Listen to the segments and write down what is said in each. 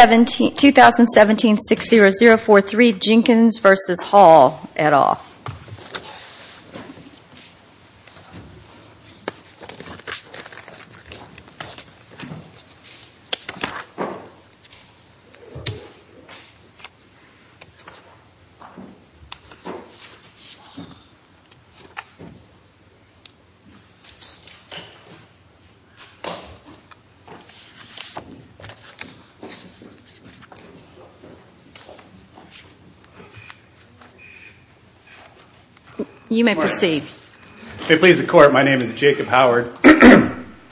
2017-60043 Jenkins v. Hall, et al.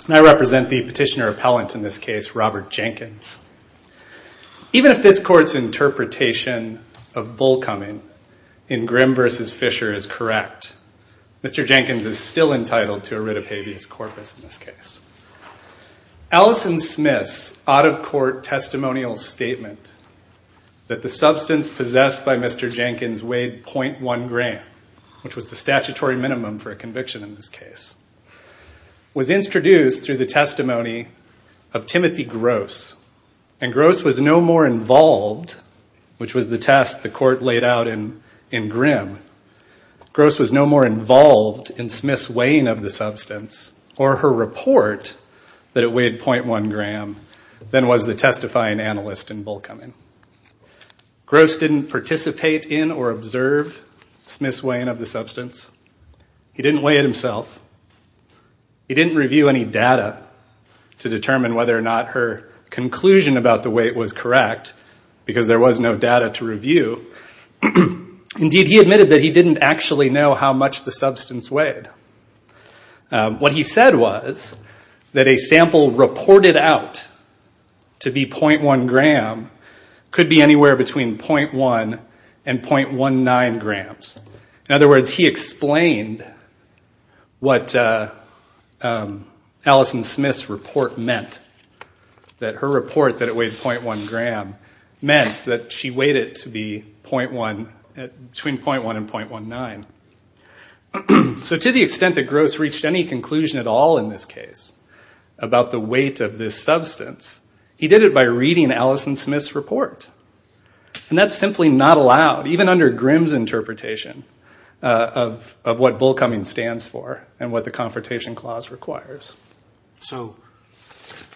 I represent the Petitioner-Appellant in this case, Robert Jenkins. Even if this Court's interpretation of Bullcoming in Grimm v. Fisher is correct, Mr. Jenkins is still entitled to a writ of habeas corpus in this case. Alison Smith's out-of-court testimonial statement that the substance possessed by Mr. Jenkins weighed 0.1 gram, which was the statutory minimum for a conviction in this case, was introduced through the testimony of Timothy Gross. And Gross was no more involved, which was the test the Court laid out in Grimm. Gross was no more involved in Smith's weighing of the substance or her report that it weighed 0.1 gram than was the testifying analyst in Bullcoming. Gross didn't participate in or observe Smith's weighing of the substance. He didn't weigh it himself. He didn't review any data to determine whether or not her conclusion about the weight was correct, because there was no data to review. Indeed, he admitted that he didn't actually know how much the substance weighed. What he said was that a sample reported out to be 0.1 gram could be anywhere between 0.1 and 0.19 grams. In other words, he explained what Alison Smith's report meant. That her report that it weighed 0.1 gram meant that she weighed it to be between 0.1 and 0.19. So to the extent that Gross reached any conclusion at all in this case about the weight of this substance, he did it by reading Alison Smith's report. And that's simply not allowed, even under Grimm's interpretation of what Bullcoming stands for and what the Confrontation Clause requires. So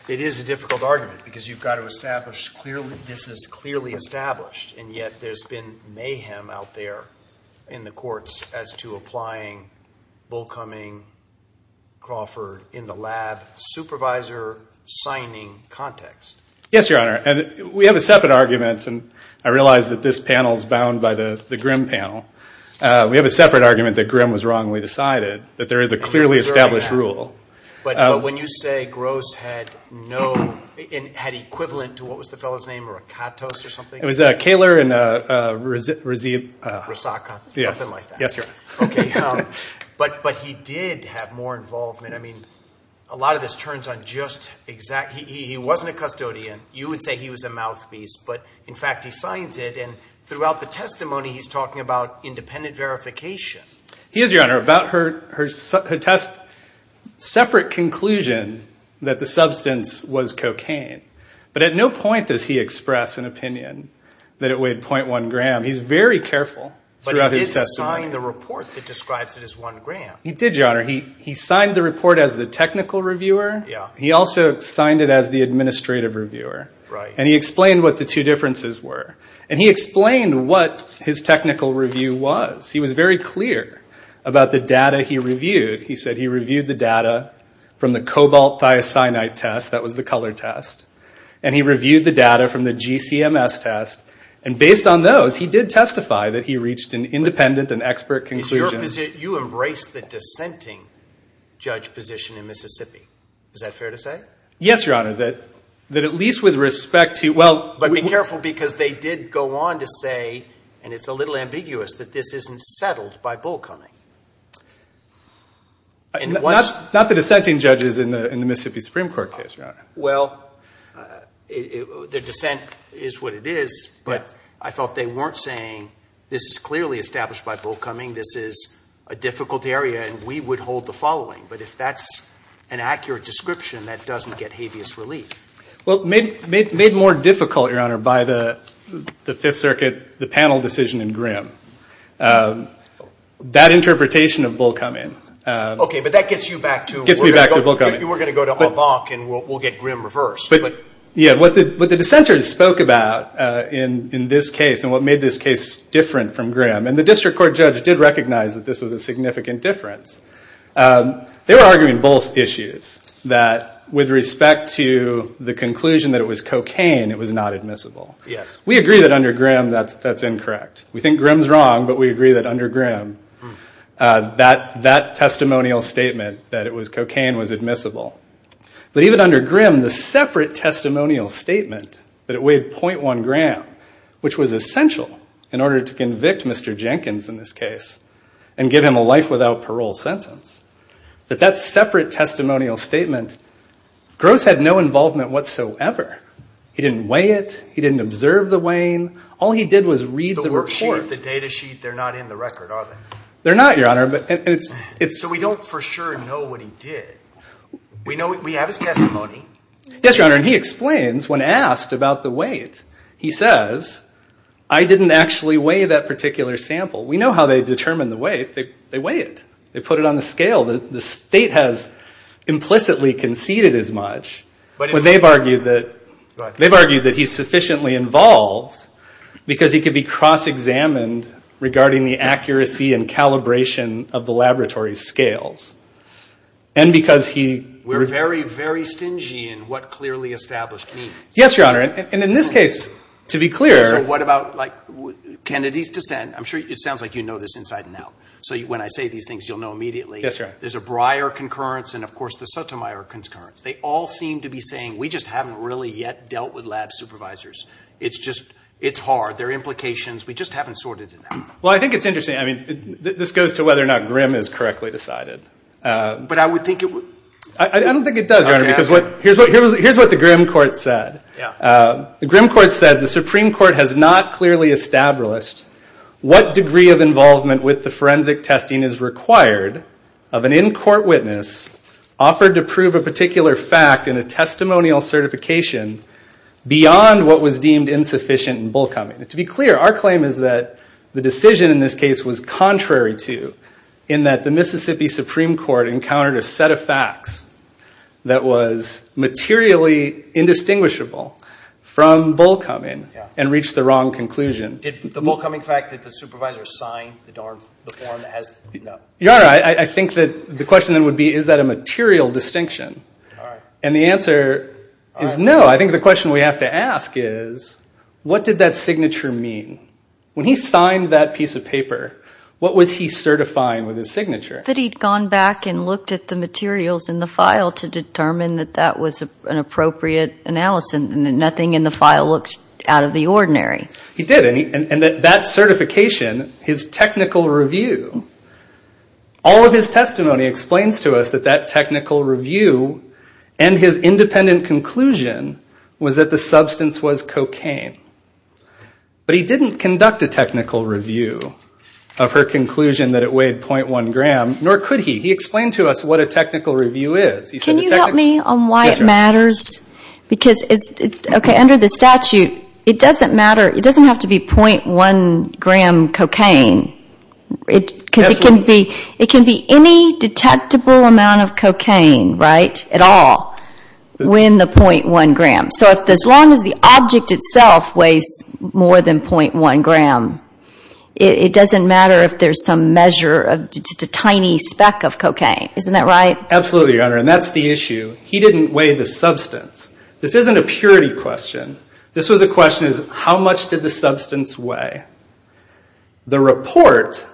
it is a difficult argument, because you've got to establish clearly this is clearly established, and yet there's been mayhem out there in the courts as to applying Bullcoming, Crawford, in the lab supervisor signing context. Yes, Your Honor. And we have a separate argument, and I realize that this panel is bound by the Grimm panel. We have a separate argument that Grimm was wrongly decided, that there is a clearly established rule. But when you say Gross had no ñ had equivalent to, what was the fellow's name, a Rakatos or something? It was a Koehler and a Rasaka. Something like that. Yes, Your Honor. Okay. But he did have more involvement. I mean, a lot of this turns on just ñ he wasn't a custodian. You would say he was a mouthpiece. But, in fact, he signs it, and throughout the testimony, he's talking about independent verification. He is, Your Honor, about her test ñ separate conclusion that the substance was cocaine. But at no point does he express an opinion that it weighed 0.1 gram. He's very careful throughout his testimony. But he did sign the report that describes it as 1 gram. He did, Your Honor. He signed the report as the technical reviewer. Yeah. He also signed it as the administrative reviewer. Right. And he explained what the two differences were. And he explained what his technical review was. He was very clear about the data he reviewed. He said he reviewed the data from the cobalt thiocyanide test. That was the Koehler test. And he reviewed the data from the GCMS test. And based on those, he did testify that he reached an independent and expert conclusion. You embraced the dissenting judge position in Mississippi. Is that fair to say? Yes, Your Honor. That at least with respect to ñ well ñ Not the dissenting judges in the Mississippi Supreme Court case, Your Honor. Well, the dissent is what it is. But I thought they weren't saying this is clearly established by Bull Cumming, this is a difficult area, and we would hold the following. But if that's an accurate description, that doesn't get habeas relief. Well, made more difficult, Your Honor, by the Fifth Circuit, the panel decision in Grimm. That interpretation of Bull Cumming ñ Okay, but that gets you back to ñ Gets me back to Bull Cumming. You were going to go to Abach and we'll get Grimm reversed. Yeah, but what the dissenters spoke about in this case and what made this case different from Grimm, and the district court judge did recognize that this was a significant difference, they were arguing both issues, that with respect to the conclusion that it was cocaine, it was not admissible. Yes. We agree that under Grimm, that's incorrect. We think Grimm's wrong, but we agree that under Grimm, that testimonial statement that it was cocaine was admissible. But even under Grimm, the separate testimonial statement that it weighed 0.1 gram, which was essential in order to convict Mr. Jenkins in this case and give him a life without parole sentence, that that separate testimonial statement, Gross had no involvement whatsoever. He didn't weigh it, he didn't observe the weighing, all he did was read the report. The worksheet, the data sheet, they're not in the record, are they? They're not, Your Honor. So we don't for sure know what he did. We have his testimony. Yes, Your Honor, and he explains when asked about the weight, he says, I didn't actually weigh that particular sample. We know how they determine the weight, they weigh it. They put it on the scale that the state has implicitly conceded as much. But they've argued that he's sufficiently involved because he could be cross-examined regarding the accuracy and calibration of the laboratory scales. And because he... We're very, very stingy in what clearly established means. Yes, Your Honor, and in this case, to be clear... So what about, like, Kennedy's dissent, I'm sure it sounds like you know this inside and out. So when I say these things, you'll know immediately. Yes, Your Honor. There's a Breyer concurrence and, of course, the Sotomayor concurrence. They all seem to be saying, we just haven't really yet dealt with lab supervisors. It's just, it's hard. There are implications. We just haven't sorted it out. Well, I think it's interesting. I mean, this goes to whether or not Grimm is correctly decided. But I would think it would... I don't think it does, Your Honor, because here's what the Grimm court said. The Grimm court said, the Supreme Court has not clearly established what degree of involvement with the forensic testing is required of an in-court witness offered to prove a particular fact in a testimonial certification beyond what was deemed insufficient in Bullcoming. To be clear, our claim is that the decision in this case was contrary to, in that the Mississippi Supreme Court encountered a set of facts that was materially indistinguishable from Bullcoming and reached the wrong conclusion. Did the Bullcoming fact that the supervisor signed the form... Your Honor, I think that the question then would be, is that a material distinction? And the answer is no. I think the question we have to ask is, what did that signature mean? When he signed that piece of paper, what was he certifying with his signature? That he'd gone back and looked at the materials in the file to determine that that was an appropriate analysis and that nothing in the file looked out of the ordinary. He did, and that certification, his technical review. All of his testimony explains to us that that technical review and his independent conclusion was that the substance was cocaine. But he didn't conduct a technical review of her conclusion that it weighed 0.1 gram, nor could he. He explained to us what a technical review is. Can you help me on why it matters? Because, okay, under the statute, it doesn't matter, it doesn't have to be 0.1 gram cocaine. Because it can be any detectable amount of cocaine, right? At all. When the 0.1 gram. So as long as the object itself weighs more than 0.1 gram, it doesn't matter if there's some measure of just a tiny speck of cocaine. Isn't that right? Absolutely, Your Honor, and that's the issue. He didn't weigh the substance. This isn't a purity question. This was a question of how much did the substance weigh? The report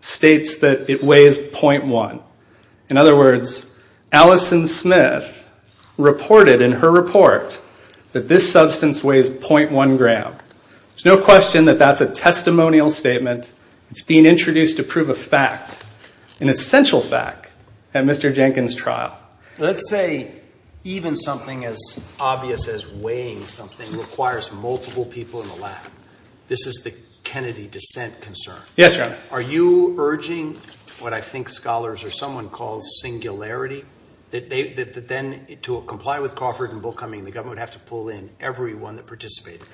states that it weighs 0.1. In other words, Allison Smith reported in her report that this substance weighs 0.1 gram. There's no question that that's a testimonial statement. It's being introduced to prove a fact, an essential fact, at Mr. Jenkins' trial. Let's say even something as obvious as weighing something requires multiple people in the lab. This is the Kennedy dissent concern. Yes, Your Honor. Are you urging what I think scholars or someone calls singularity, that then to comply with Crawford and Bullcoming, the government would have to pull in everyone that participated?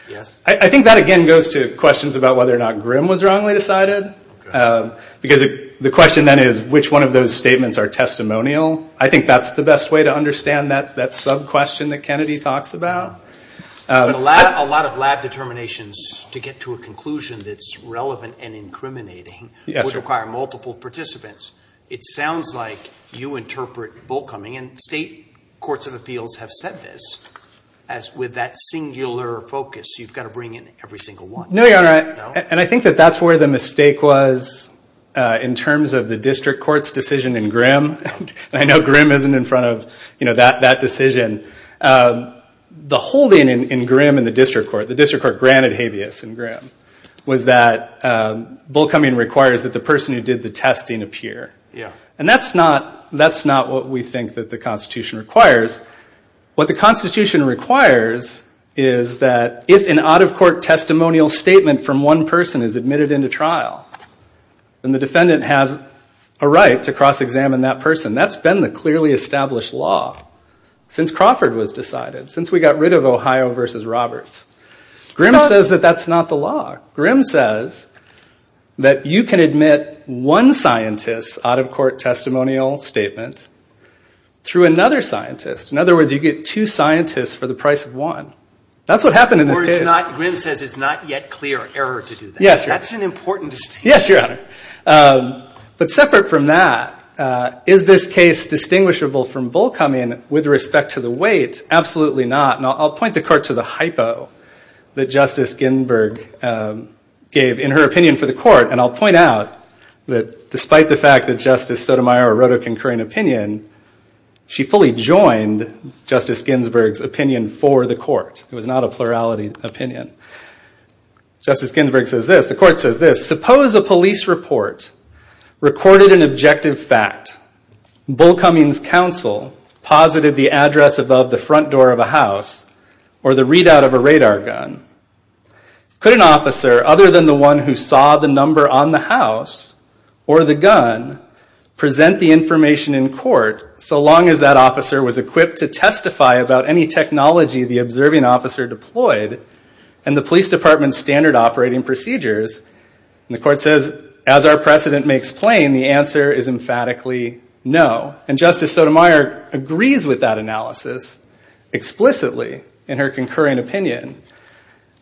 I think that again goes to questions about whether or not Grimm was wrongly decided. Because the question then is which one of those statements are testimonial. I think that's the best way to understand that sub-question that Kennedy talks about. A lot of lab determinations, to get to a conclusion that's relevant and incriminating, would require multiple participants. It sounds like you interpret Bullcoming, and state courts of appeals have said this, as with that singular focus, you've got to bring in every single one. No, Your Honor. in terms of the district court's decision in Grimm. I know Grimm isn't in front of that decision. The holding in Grimm in the district court, the district court granted habeas in Grimm, was that Bullcoming requires that the person who did the testing appear. That's not what we think the Constitution requires. What the Constitution requires is that if an out-of-court testimonial statement from one person is admitted into trial, then the defendant has a right to cross-examine that person. That's been the clearly established law since Crawford was decided, since we got rid of Ohio versus Roberts. Grimm says that that's not the law. Grimm says that you can admit one scientist's out-of-court testimonial statement through another scientist. In other words, you get two scientists for the price of one. That's what happened in this case. Or Grimm says it's not yet clear error to do that. Yes, Your Honor. That's an important distinction. Yes, Your Honor. But separate from that, is this case distinguishable from Bullcoming with respect to the weight? Absolutely not. And I'll point the court to the hypo that Justice Ginsburg gave in her opinion for the court. And I'll point out that despite the fact that Justice Sotomayor wrote a concurring opinion, she fully joined Justice Ginsburg's opinion for the court. It was not a plurality opinion. Justice Ginsburg says this. The court says this. Suppose a police report recorded an objective fact. Bullcoming's counsel posited the address above the front door of a house or the readout of a radar gun. Could an officer, other than the one who saw the number on the house or the gun, present the information in court so long as that officer was equipped to testify about any technology the observing officer deployed and the police department's standard operating procedures And the court says, as our precedent may explain, the answer is emphatically no. And Justice Sotomayor agrees with that analysis explicitly in her concurring opinion.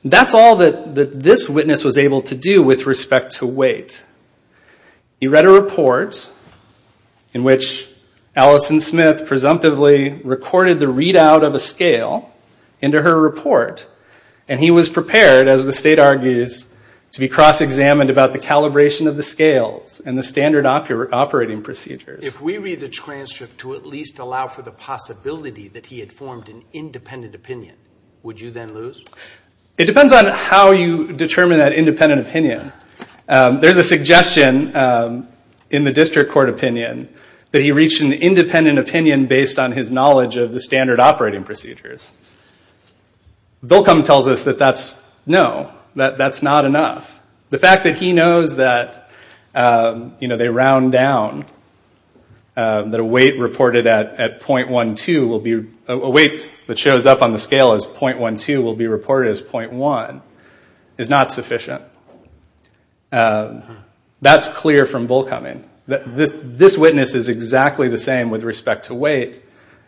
That's all that this witness was able to do with respect to weight. He read a report in which Alison Smith presumptively recorded the readout of a scale into her report. And he was prepared, as the state argues, to be cross-examined about the calibration of the scales and the standard operating procedures. If we read the transcript to at least allow for the possibility that he had formed an independent opinion, would you then lose? It depends on how you determine that independent opinion. There's a suggestion in the district court opinion that he reached an independent opinion based on his knowledge of the standard operating procedures. Volcom tells us that that's no, that that's not enough. The fact that he knows that they round down, that a weight reported at .12 will be, a weight that shows up on the scale as .12 will be reported as .1 is not sufficient. That's clear from Volcoming. This witness is exactly the same with respect to weight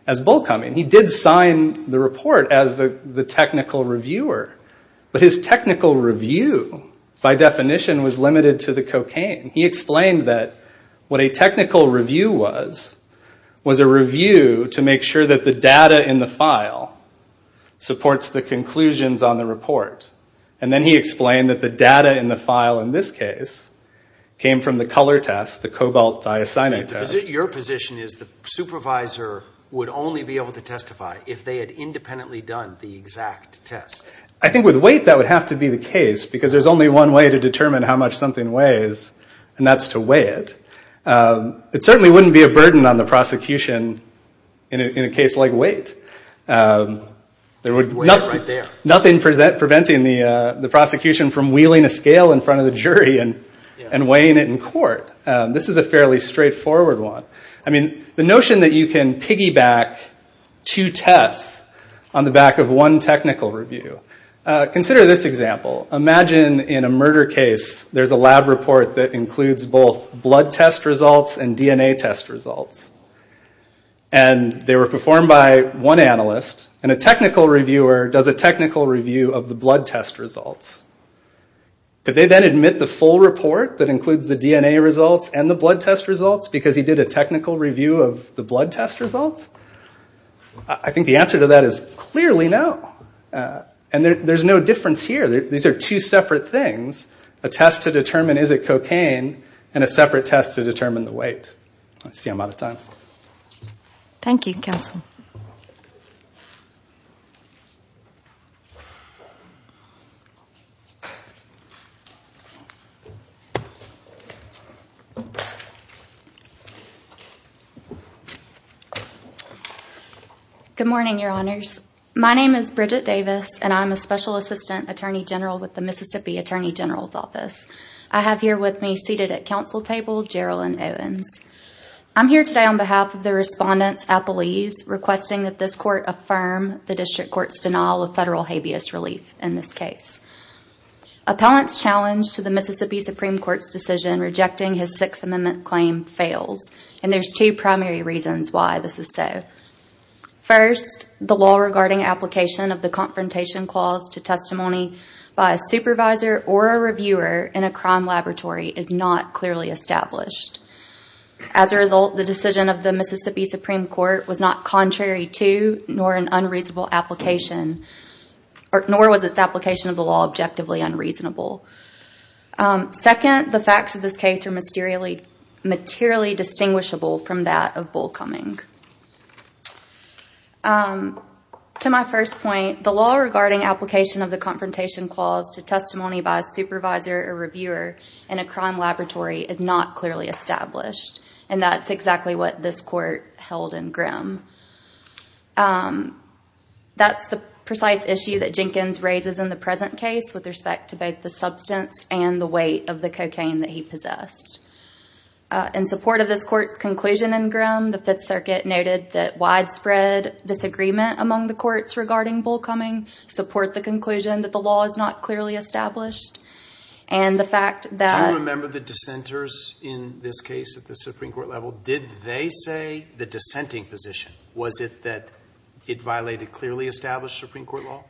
as Volcoming. He did sign the report as the technical reviewer. But his technical review, by definition, was limited to the cocaine. He explained that what a technical review was was a review to make sure that the data in the file supports the conclusions on the report. And then he explained that the data in the file, in this case, came from the color test, the cobalt thiocyanate test. Your position is the supervisor would only be able to testify if they had independently done the exact test. I think with weight, that would have to be the case because there's only one way to determine how much something weighs, and that's to weigh it. It certainly wouldn't be a burden on the prosecution in a case like weight. There would be nothing preventing the prosecution from wheeling a scale in front of the jury and weighing it in court. This is a fairly straightforward one. The notion that you can piggyback two tests on the back of one technical review. Consider this example. Imagine in a murder case, there's a lab report that includes both blood test results and DNA test results. They were performed by one analyst, and a technical reviewer does a technical review of the blood test results. Could they then admit the full report that includes the DNA results and the blood test results because he did a technical review of the blood test results? I think the answer to that is clearly no. There's no difference here. These are two separate things. A test to determine is it cocaine, and a separate test to determine the weight. I see I'm out of time. Thank you, Counsel. Good morning, Your Honors. My name is Bridget Davis, and I'm a Special Assistant Attorney General with the Mississippi Attorney General's Office. I have here with me, seated at counsel table, Gerilyn Owens. I'm here today on behalf of the Respondent's appellees requesting that this Court affirm the District Court's denial of federal habeas relief in this case. Appellant's challenge to the Mississippi Supreme Court's decision rejecting his Sixth Amendment claim fails, and there's two primary reasons why this is so. First, the law regarding application of the Confrontation Clause to testimony by a supervisor or a reviewer in a crime laboratory is not clearly established. As a result, the decision of the Mississippi Supreme Court was not contrary to, nor an unreasonable application, nor was its application of the law objectively unreasonable. Second, the facts of this case are materially distinguishable from that of Bull Cumming. To my first point, the law regarding application of the Confrontation Clause to testimony by a supervisor or reviewer in a crime laboratory is not clearly established, and that's exactly what this Court held in Grimm. That's the precise issue that Jenkins raises in the present case with respect to both the substance and the weight of the cocaine that he possessed. In support of this Court's conclusion in Grimm, the Fifth Circuit noted that widespread disagreement among the courts regarding Bull Cumming support the conclusion that the law is not clearly established, and the fact that... Do you remember the dissenters in this case at the Supreme Court level? Did they say the dissenting position? Was it that it violated clearly established Supreme Court law?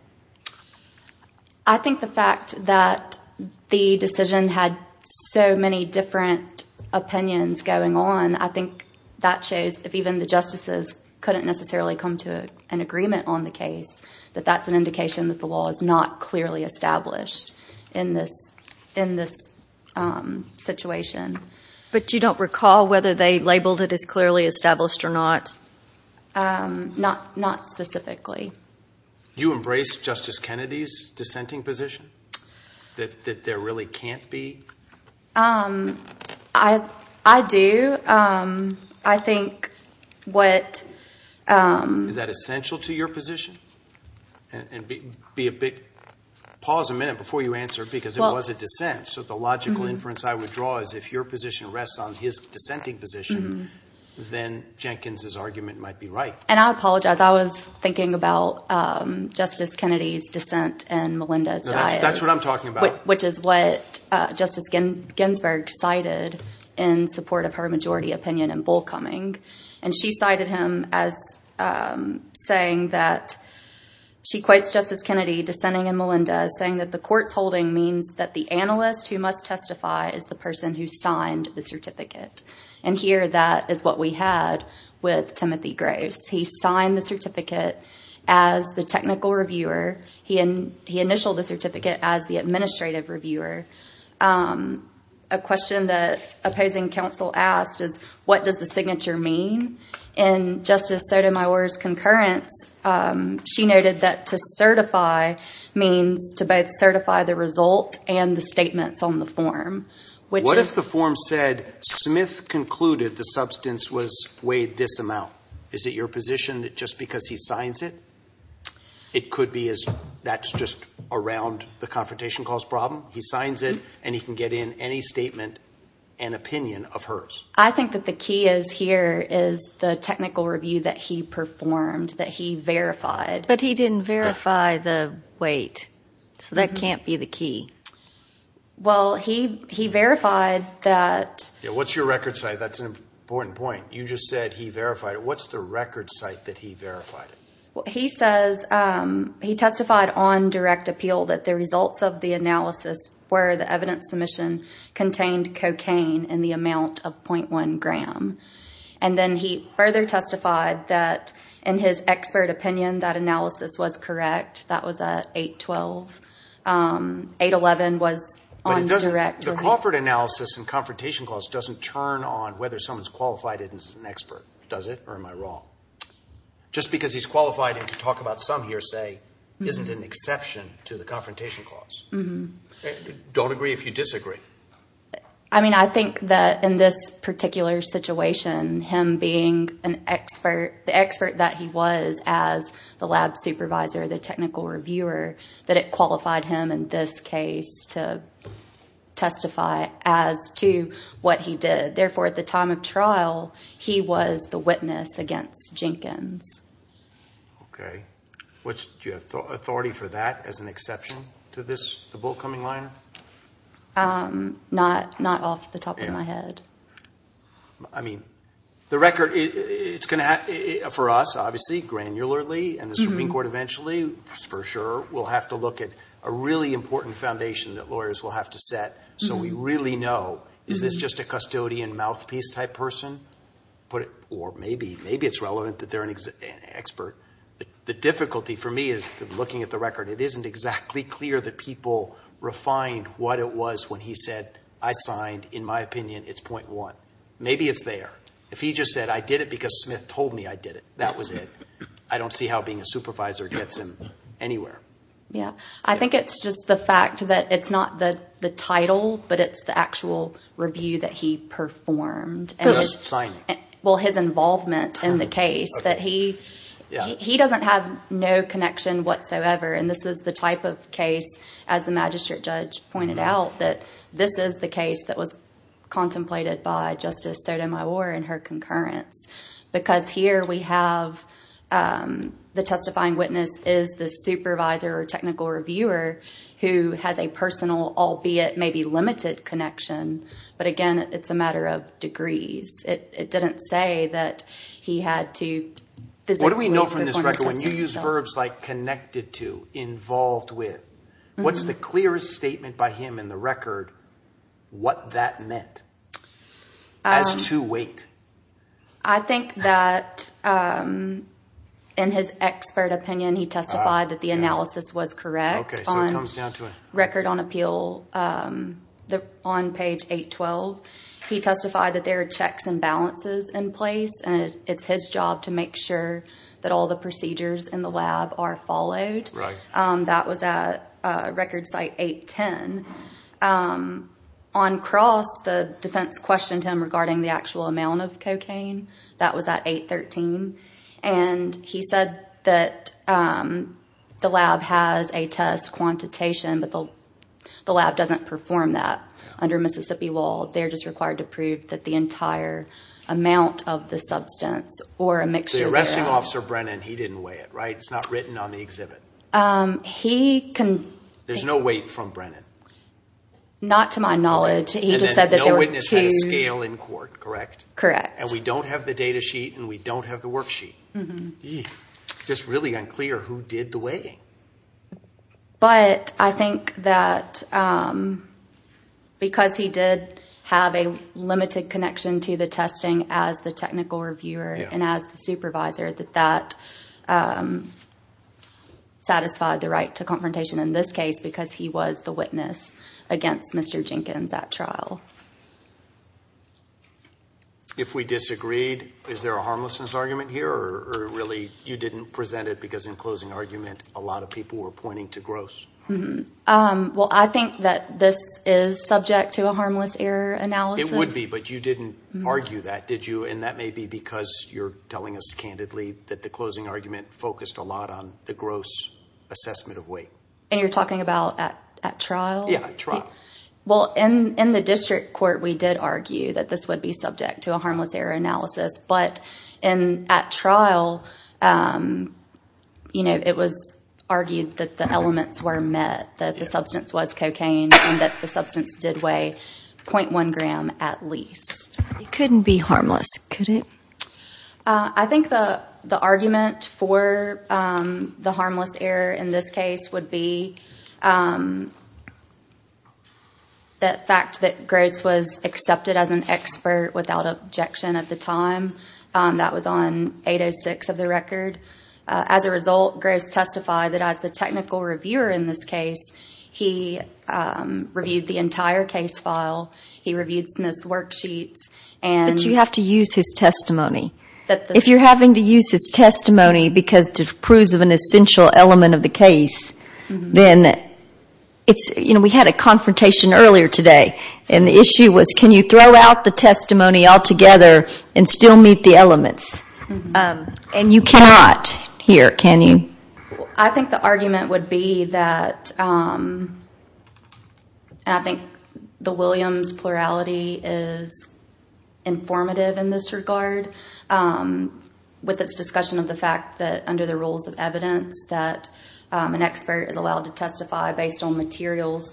I think the fact that the decision had so many different opinions going on, I think that shows if even the justices couldn't necessarily come to an agreement on the case, that that's an indication that the law is not clearly established in this situation. But you don't recall whether they labeled it as clearly established or not? Not specifically. Do you embrace Justice Kennedy's dissenting position, that there really can't be? I do. I think what... Is that essential to your position? Pause a minute before you answer, because it was a dissent. So the logical inference I would draw is if your position rests on his dissenting position, then Jenkins' argument might be right. And I apologize. I was thinking about Justice Kennedy's dissent and Melinda's diet. That's what I'm talking about. Which is what Justice Ginsburg cited in support of her majority opinion in Bull Cumming. And she cited him as saying that... She quotes Justice Kennedy dissenting in Melinda saying that the court's holding means that the analyst who must testify is the person who signed the certificate. And here that is what we had with Timothy Grace. He signed the certificate as the technical reviewer. He initialed the certificate as the administrative reviewer. A question that opposing counsel asked is, what does the signature mean? And Justice Sotomayor's concurrence, she noted that to certify means to both certify the result and the statements on the form. What if the form said, Smith concluded the substance was weighed this amount? Is it your position that just because he signs it, it could be as that's just around the confrontation cause problem? He signs it and he can get in any statement and opinion of hers. I think that the key is here is the technical review that he performed, that he verified. But he didn't verify the weight. So that can't be the key. Well, he verified that... What's your record site? That's an important point. You just said he verified it. What's the record site that he verified it? He says he testified on direct appeal that the results of the analysis were the evidence submission contained cocaine in the amount of .1 gram. And then he further testified that in his expert opinion, that analysis was correct. That was at 8-12. 8-11 was on direct appeal. But the Crawford analysis and confrontation clause doesn't turn on whether someone's qualified as an expert, does it? Or am I wrong? Just because he's qualified and can talk about some hearsay isn't an exception to the confrontation clause. Don't agree if you disagree. I mean, I think that in this particular situation, him being the expert that he was as the lab supervisor, the technical reviewer, that it qualified him in this case to testify as to what he did. Therefore, at the time of trial, he was the witness against Jenkins. Okay. Do you have authority for that as an exception to this, the bolt coming line? Not off the top of my head. I mean, the record, it's going to have, for us, obviously, granularly and the Supreme Court eventually, for sure, will have to look at a really important foundation that lawyers will have to set so we really know, is this just a custodian mouthpiece type person? Or maybe it's relevant that they're an expert. The difficulty for me is looking at the record. It isn't exactly clear that people refined what it was when he said, I signed. In my opinion, it's .1. Maybe it's there. If he just said, I did it because Smith told me I did it, that was it. I don't see how being a supervisor gets him anywhere. Yeah. I think it's just the fact that it's not the title, but it's the actual review that he performed. Whose signing? Well, his involvement in the case. He doesn't have no connection whatsoever. This is the type of case, as the magistrate judge pointed out, that this is the case that was contemplated by Justice Sotomayor and her concurrence. Because here we have the testifying witness is the supervisor or technical reviewer who has a personal, albeit maybe limited connection. But again, it's a matter of degrees. It didn't say that he had to physically- What do we know from this record? When you use verbs like connected to, involved with, what's the clearest statement by him in the record what that meant? As to weight. I think that in his expert opinion, he testified that the analysis was correct. Okay. So it comes down to a- He testified that there are checks and balances in place, and it's his job to make sure that all the procedures in the lab are followed. Right. That was at record site 810. On cross, the defense questioned him regarding the actual amount of cocaine. That was at 813. And he said that the lab has a test quantitation, but the lab doesn't perform that under Mississippi law. They're just required to prove that the entire amount of the substance or a mixture- The arresting officer, Brennan, he didn't weigh it, right? It's not written on the exhibit. He can- There's no weight from Brennan. Not to my knowledge. He just said that there were two- And then no witness had a scale in court, correct? Correct. And we don't have the data sheet, and we don't have the worksheet. Just really unclear who did the weighing. But I think that because he did have a limited connection to the testing as the technical reviewer and as the supervisor, that that satisfied the right to confrontation in this case because he was the witness against Mr. Jenkins at trial. If we disagreed, is there a harmlessness argument here, or really you didn't present it because in closing argument, a lot of people were pointing to gross? Well, I think that this is subject to a harmless error analysis. It would be, but you didn't argue that, did you? And that may be because you're telling us candidly that the closing argument focused a lot on the gross assessment of weight. And you're talking about at trial? Yeah, at trial. Well, in the district court, we did argue that this would be subject to a harmless error analysis. But at trial, it was argued that the elements were met, that the substance was cocaine, and that the substance did weigh 0.1 gram at least. It couldn't be harmless, could it? I think the argument for the harmless error in this case would be the fact that gross was accepted as an expert without objection at the time. That was on 806 of the record. As a result, gross testified that as the technical reviewer in this case, he reviewed the entire case file. He reviewed some of his worksheets. But you have to use his testimony. If you're having to use his testimony because it proves an essential element of the case, then it's, you know, we had a confrontation earlier today. And the issue was can you throw out the testimony altogether and still meet the elements? And you cannot here, can you? I think the argument would be that, and I think the Williams plurality is informative in this regard, with its discussion of the fact that under the rules of evidence that an expert is allowed to testify based on materials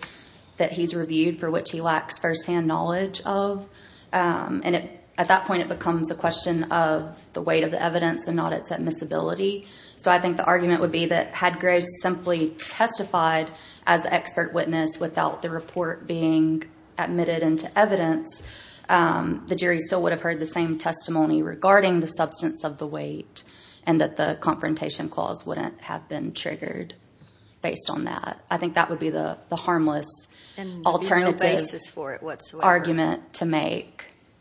that he's reviewed for which he lacks firsthand knowledge of. And at that point it becomes a question of the weight of the evidence and not its admissibility. So I think the argument would be that had gross simply testified as the expert witness without the report being admitted into evidence, the jury still would have heard the same testimony regarding the substance of the weight and that the confrontation clause wouldn't have been triggered based on that. I think that would be the harmless alternative argument to make.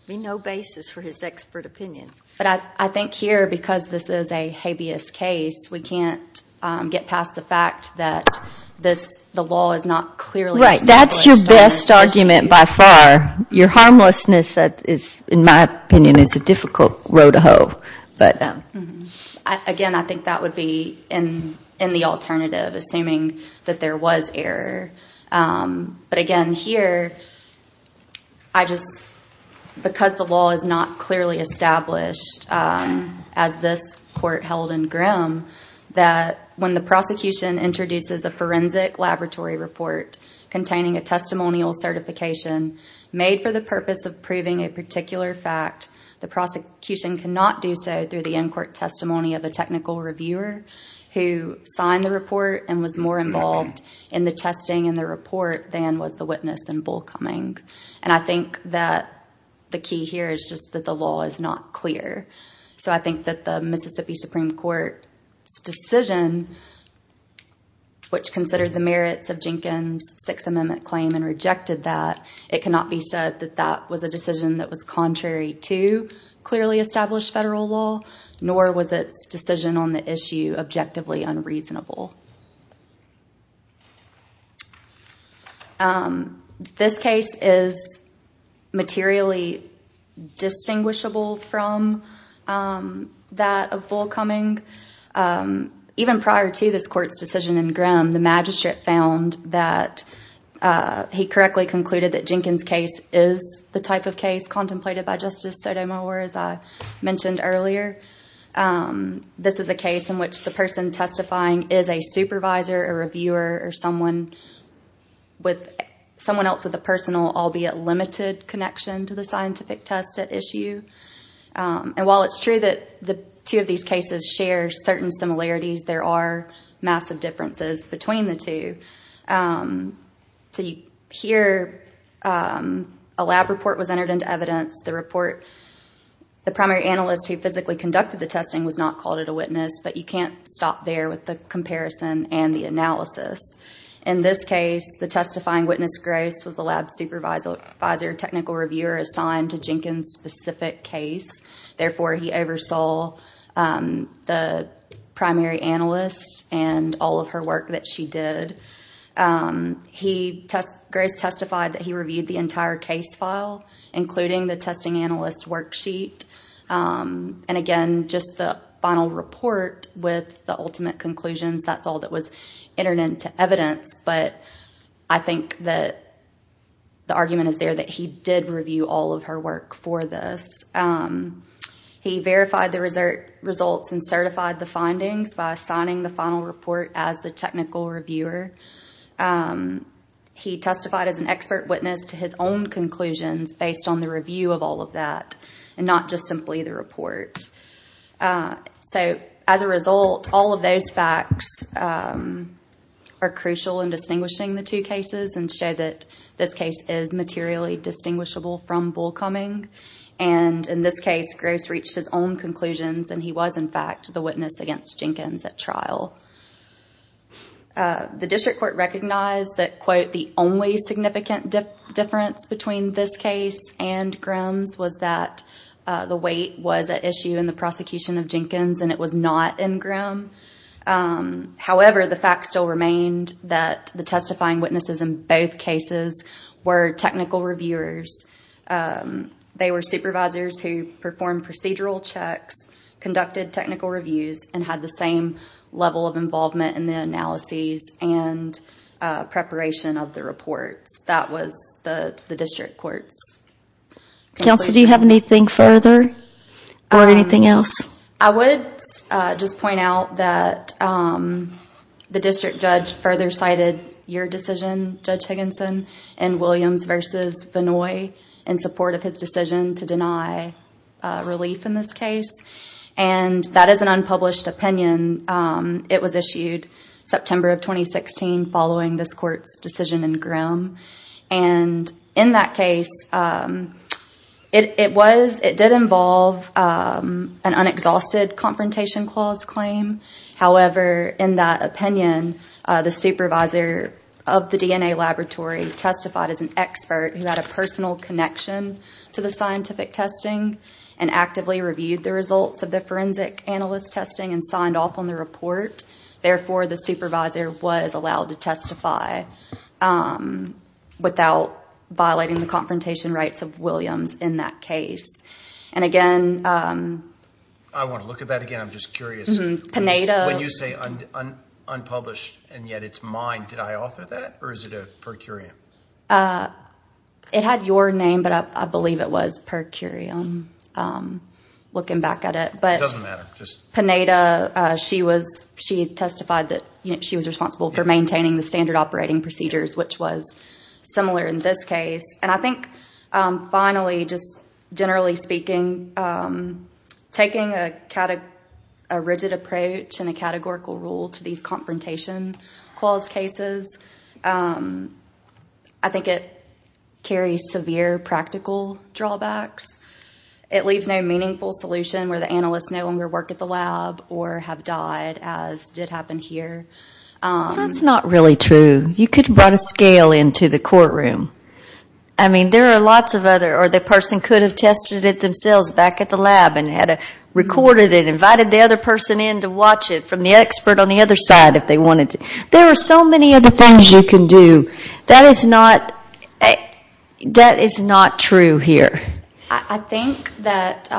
There would be no basis for his expert opinion. But I think here, because this is a habeas case, we can't get past the fact that the law is not clearly established. Right, that's your best argument by far. Your harmlessness, in my opinion, is a difficult row to hoe. Again, I think that would be in the alternative, assuming that there was error. But again, here, because the law is not clearly established, as this court held in Grimm, that when the prosecution introduces a forensic laboratory report containing a testimonial certification made for the purpose of proving a particular fact, the prosecution cannot do so through the in-court testimony of a technical reviewer who signed the report and was more involved in the testing and the report than was the witness in Bull Cumming. I think that the key here is just that the law is not clear. So I think that the Mississippi Supreme Court's decision, which considered the merits of Jenkins' Sixth Amendment claim and rejected that, it cannot be said that that was a decision that was contrary to clearly established federal law, nor was its decision on the issue objectively unreasonable. This case is materially distinguishable from that of Bull Cumming. The magistrate found that he correctly concluded that Jenkins' case is the type of case contemplated by Justice Sotomayor, as I mentioned earlier. This is a case in which the person testifying is a supervisor, a reviewer, or someone else with a personal, albeit limited, connection to the scientific test at issue. And while it's true that two of these cases share certain similarities, there are massive differences between the two. Here, a lab report was entered into evidence. The primary analyst who physically conducted the testing was not called a witness, but you can't stop there with the comparison and the analysis. In this case, the testifying witness, Gross, was the lab supervisor, technical reviewer, assigned to Jenkins' specific case. Therefore, he oversaw the primary analyst and all of her work that she did. Gross testified that he reviewed the entire case file, including the testing analyst worksheet. And again, just the final report with the ultimate conclusions, that's all that was entered into evidence. But I think that the argument is there that he did review all of her work for this. He verified the results and certified the findings by assigning the final report as the technical reviewer. He testified as an expert witness to his own conclusions based on the review of all of that and not just simply the report. So as a result, all of those facts are crucial in distinguishing the two cases and show that this case is materially distinguishable from Bull Cumming. And in this case, Gross reached his own conclusions and he was, in fact, the witness against Jenkins at trial. The district court recognized that, quote, the only significant difference between this case and Grimm's was that the weight was at issue in the prosecution of Jenkins and it was not in Grimm. However, the fact still remained that the testifying witnesses in both cases were technical reviewers. They were supervisors who performed procedural checks, conducted technical reviews, and had the same level of involvement in the analyses and preparation of the reports. That was the district courts. Counsel, do you have anything further or anything else? I would just point out that the district judge further cited your decision, Judge Higginson, in Williams v. Vinoy in support of his decision to deny relief in this case. And that is an unpublished opinion. It was issued September of 2016 following this court's decision in Grimm. In that case, it did involve an unexhausted confrontation clause claim. However, in that opinion, the supervisor of the DNA laboratory testified as an expert who had a personal connection to the scientific testing and actively reviewed the results of the forensic analyst testing and signed off on the report. Therefore, the supervisor was allowed to testify without violating the confrontation rights of Williams in that case. I want to look at that again. I'm just curious. When you say unpublished and yet it's mine, did I author that or is it a per curiam? It had your name, but I believe it was per curiam. Looking back at it. It doesn't matter. Pineda, she testified that she was responsible for maintaining the standard operating procedures, which was similar in this case. And I think finally, just generally speaking, taking a rigid approach and a categorical rule to these confrontation clause cases, I think it carries severe practical drawbacks. It leaves no meaningful solution where the analysts no longer work at the lab or have died, as did happen here. That's not really true. You could have brought a scale into the courtroom. I mean, there are lots of other, or the person could have tested it themselves back at the lab and had recorded it and invited the other person in to watch it from the expert on the other side if they wanted to. There are so many other things you can do. That is not true here. I think that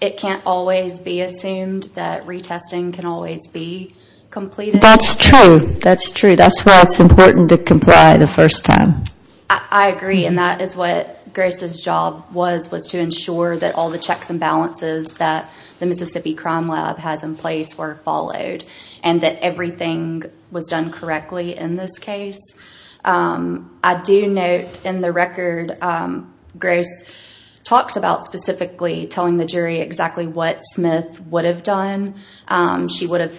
it can't always be assumed that retesting can always be completed. That's true. That's true. That's why it's important to comply the first time. I agree, and that is what Grace's job was, was to ensure that all the checks and balances that the Mississippi Crime Lab has in place were followed and that everything was done correctly in this case. I do note in the record, Grace talks about specifically telling the jury exactly what Smith would have done. She would have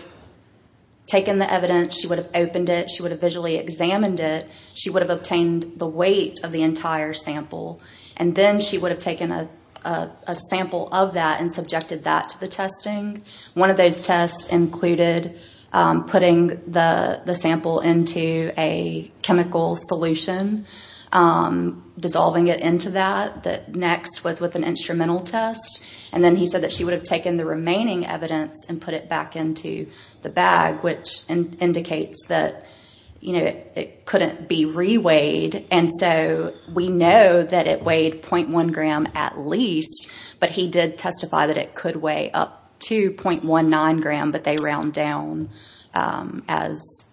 taken the evidence. She would have opened it. She would have visually examined it. She would have obtained the weight of the entire sample, and then she would have taken a sample of that and subjected that to the testing. One of those tests included putting the sample into a chemical solution, dissolving it into that. Next was with an instrumental test. Then he said that she would have taken the remaining evidence and put it back into the bag, which indicates that it couldn't be re-weighed. We know that it weighed 0.1 gram at least, but he did testify that it could weigh up to 0.19 gram, but they round down as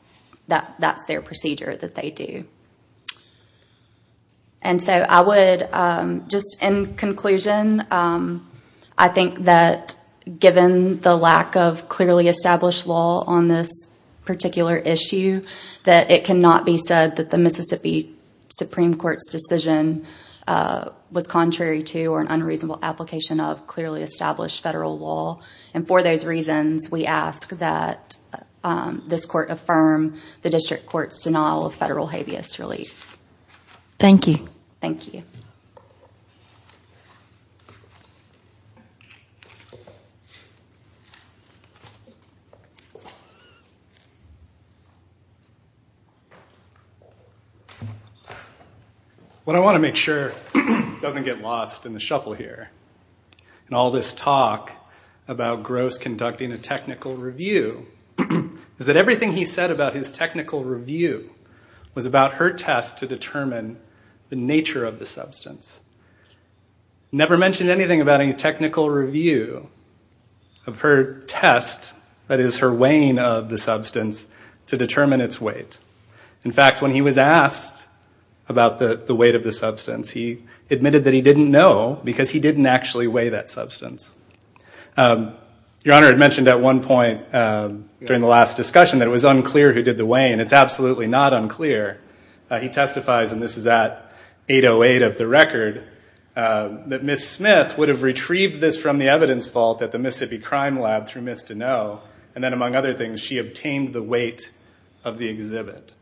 that's their procedure that they do. Just in conclusion, I think that given the lack of clearly established law on this particular issue, that it cannot be said that the Mississippi Supreme Court's decision was contrary to or an unreasonable application of clearly established federal law. For those reasons, we ask that this court affirm the district court's denial of federal habeas relief. Thank you. Thank you. What I want to make sure doesn't get lost in the shuffle here in all this talk about Gross conducting a technical review is that everything he said about his technical review was about her test to determine the nature of the substance. He never mentioned anything about any technical review of her test, that is her weighing of the substance, to determine its weight. In fact, when he was asked about the weight of the substance, he admitted that he didn't know because he didn't actually weigh that substance. Your Honor had mentioned at one point during the last discussion that it was unclear who did the weighing. It's absolutely not unclear. He testifies, and this is at 808 of the record, that Ms. Smith would have retrieved this from the evidence vault at the Mississippi Crime Lab through Ms. Deneaux, and then, among other things, she obtained the weight of the exhibit.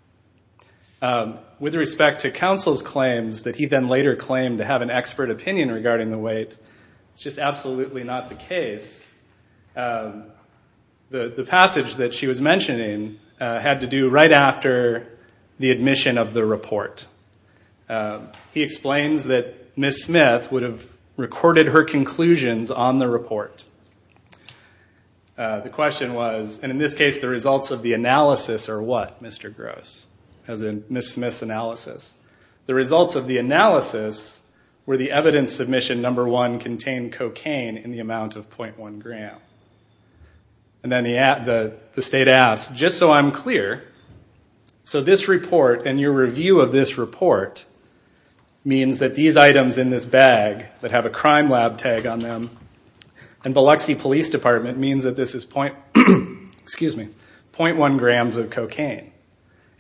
With respect to counsel's claims that he then later claimed to have an expert opinion regarding the weight, it's just absolutely not the case. The passage that she was mentioning had to do right after the admission of the report. He explains that Ms. Smith would have recorded her conclusions on the report. The question was, and in this case, the results of the analysis are what, Mr. Gross, as in Ms. Smith's analysis? The results of the analysis were the evidence submission number one contained cocaine in the amount of .1 gram. And then the state asks, just so I'm clear, so this report and your review of this report means that these items in this bag that have a Crime Lab tag on them and Biloxi Police Department means that this is .1 grams of cocaine.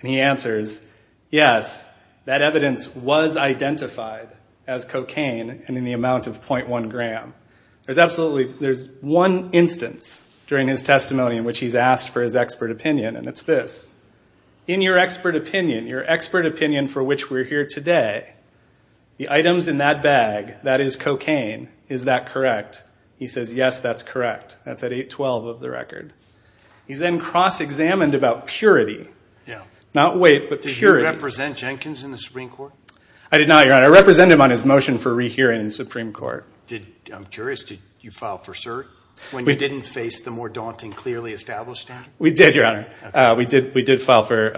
And he answers, yes, that evidence was identified as cocaine in the amount of .1 gram. There's absolutely one instance during his testimony in which he's asked for his expert opinion, and it's this. In your expert opinion, your expert opinion for which we're here today, the items in that bag that is cocaine, is that correct? He says, yes, that's correct. That's at 812 of the record. He's then cross-examined about purity. Not weight, but purity. Did you represent Jenkins in the Supreme Court? I did not, Your Honor. I represented him on his motion for rehearing in the Supreme Court. I'm curious. Did you file for cert when you didn't face the more daunting, clearly established act? We did, Your Honor. We did file for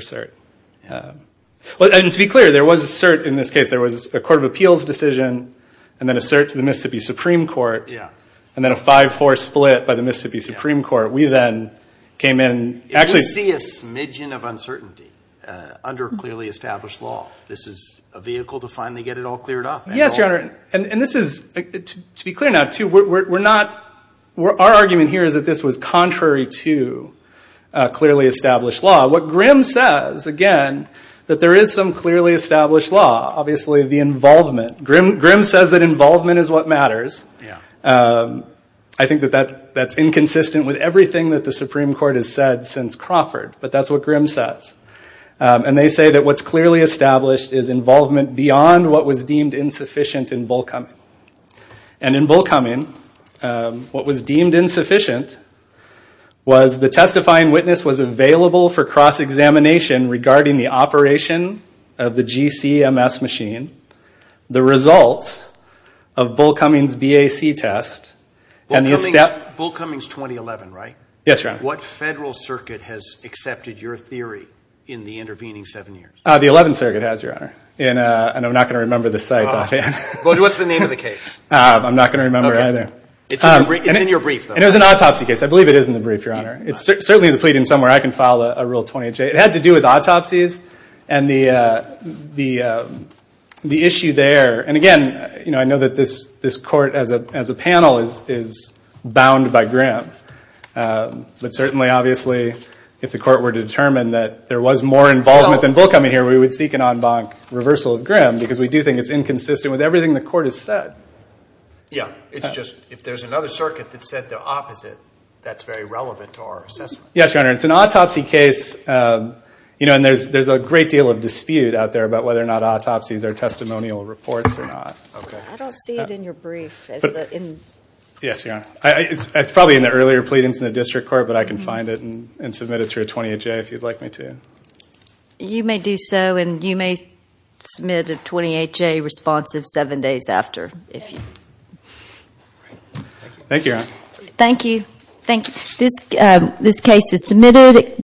cert. And to be clear, there was a cert in this case. There was a court of appeals decision, and then a cert to the Mississippi Supreme Court, and then a 5-4 split by the Mississippi Supreme Court. We then came in. We see a smidgen of uncertainty under clearly established law. This is a vehicle to finally get it all cleared up. Yes, Your Honor. And this is, to be clear now, too, we're not – our argument here is that this was contrary to clearly established law. What Grimm says, again, that there is some clearly established law. Obviously, the involvement. Grimm says that involvement is what matters. I think that that's inconsistent with everything that the Supreme Court has said since Crawford, but that's what Grimm says. And they say that what's clearly established is involvement beyond what was deemed insufficient in Bullcoming. And in Bullcoming, what was deemed insufficient was the testifying witness was available for cross-examination regarding the operation of the GCMS machine, the results of Bullcoming's BAC test, and the – Bullcoming's 2011, right? Yes, Your Honor. What federal circuit has accepted your theory in the intervening seven years? The 11th Circuit has, Your Honor. And I'm not going to remember the site offhand. But what's the name of the case? I'm not going to remember either. Okay. It's in your brief, though. And it was an autopsy case. I believe it is in the brief, Your Honor. It's certainly in the pleading somewhere. I can file a Rule 28J. It had to do with autopsies and the issue there. And, again, I know that this court as a panel is bound by Grimm. But certainly, obviously, if the court were to determine that there was more involvement than Bullcoming here, we would seek an en banc reversal of Grimm because we do think it's inconsistent with everything the court has said. Yeah. It's just if there's another circuit that said the opposite, that's very relevant to our assessment. Yes, Your Honor. It's an autopsy case, and there's a great deal of dispute out there about whether or not autopsies are testimonial reports or not. Okay. I don't see it in your brief. Yes, Your Honor. It's probably in the earlier pleadings in the district court, but I can find it and submit it through a 28J if you'd like me to. You may do so, and you may submit a 28J responsive seven days after. Thank you, Your Honor. Thank you. Thank you. This case is submitted.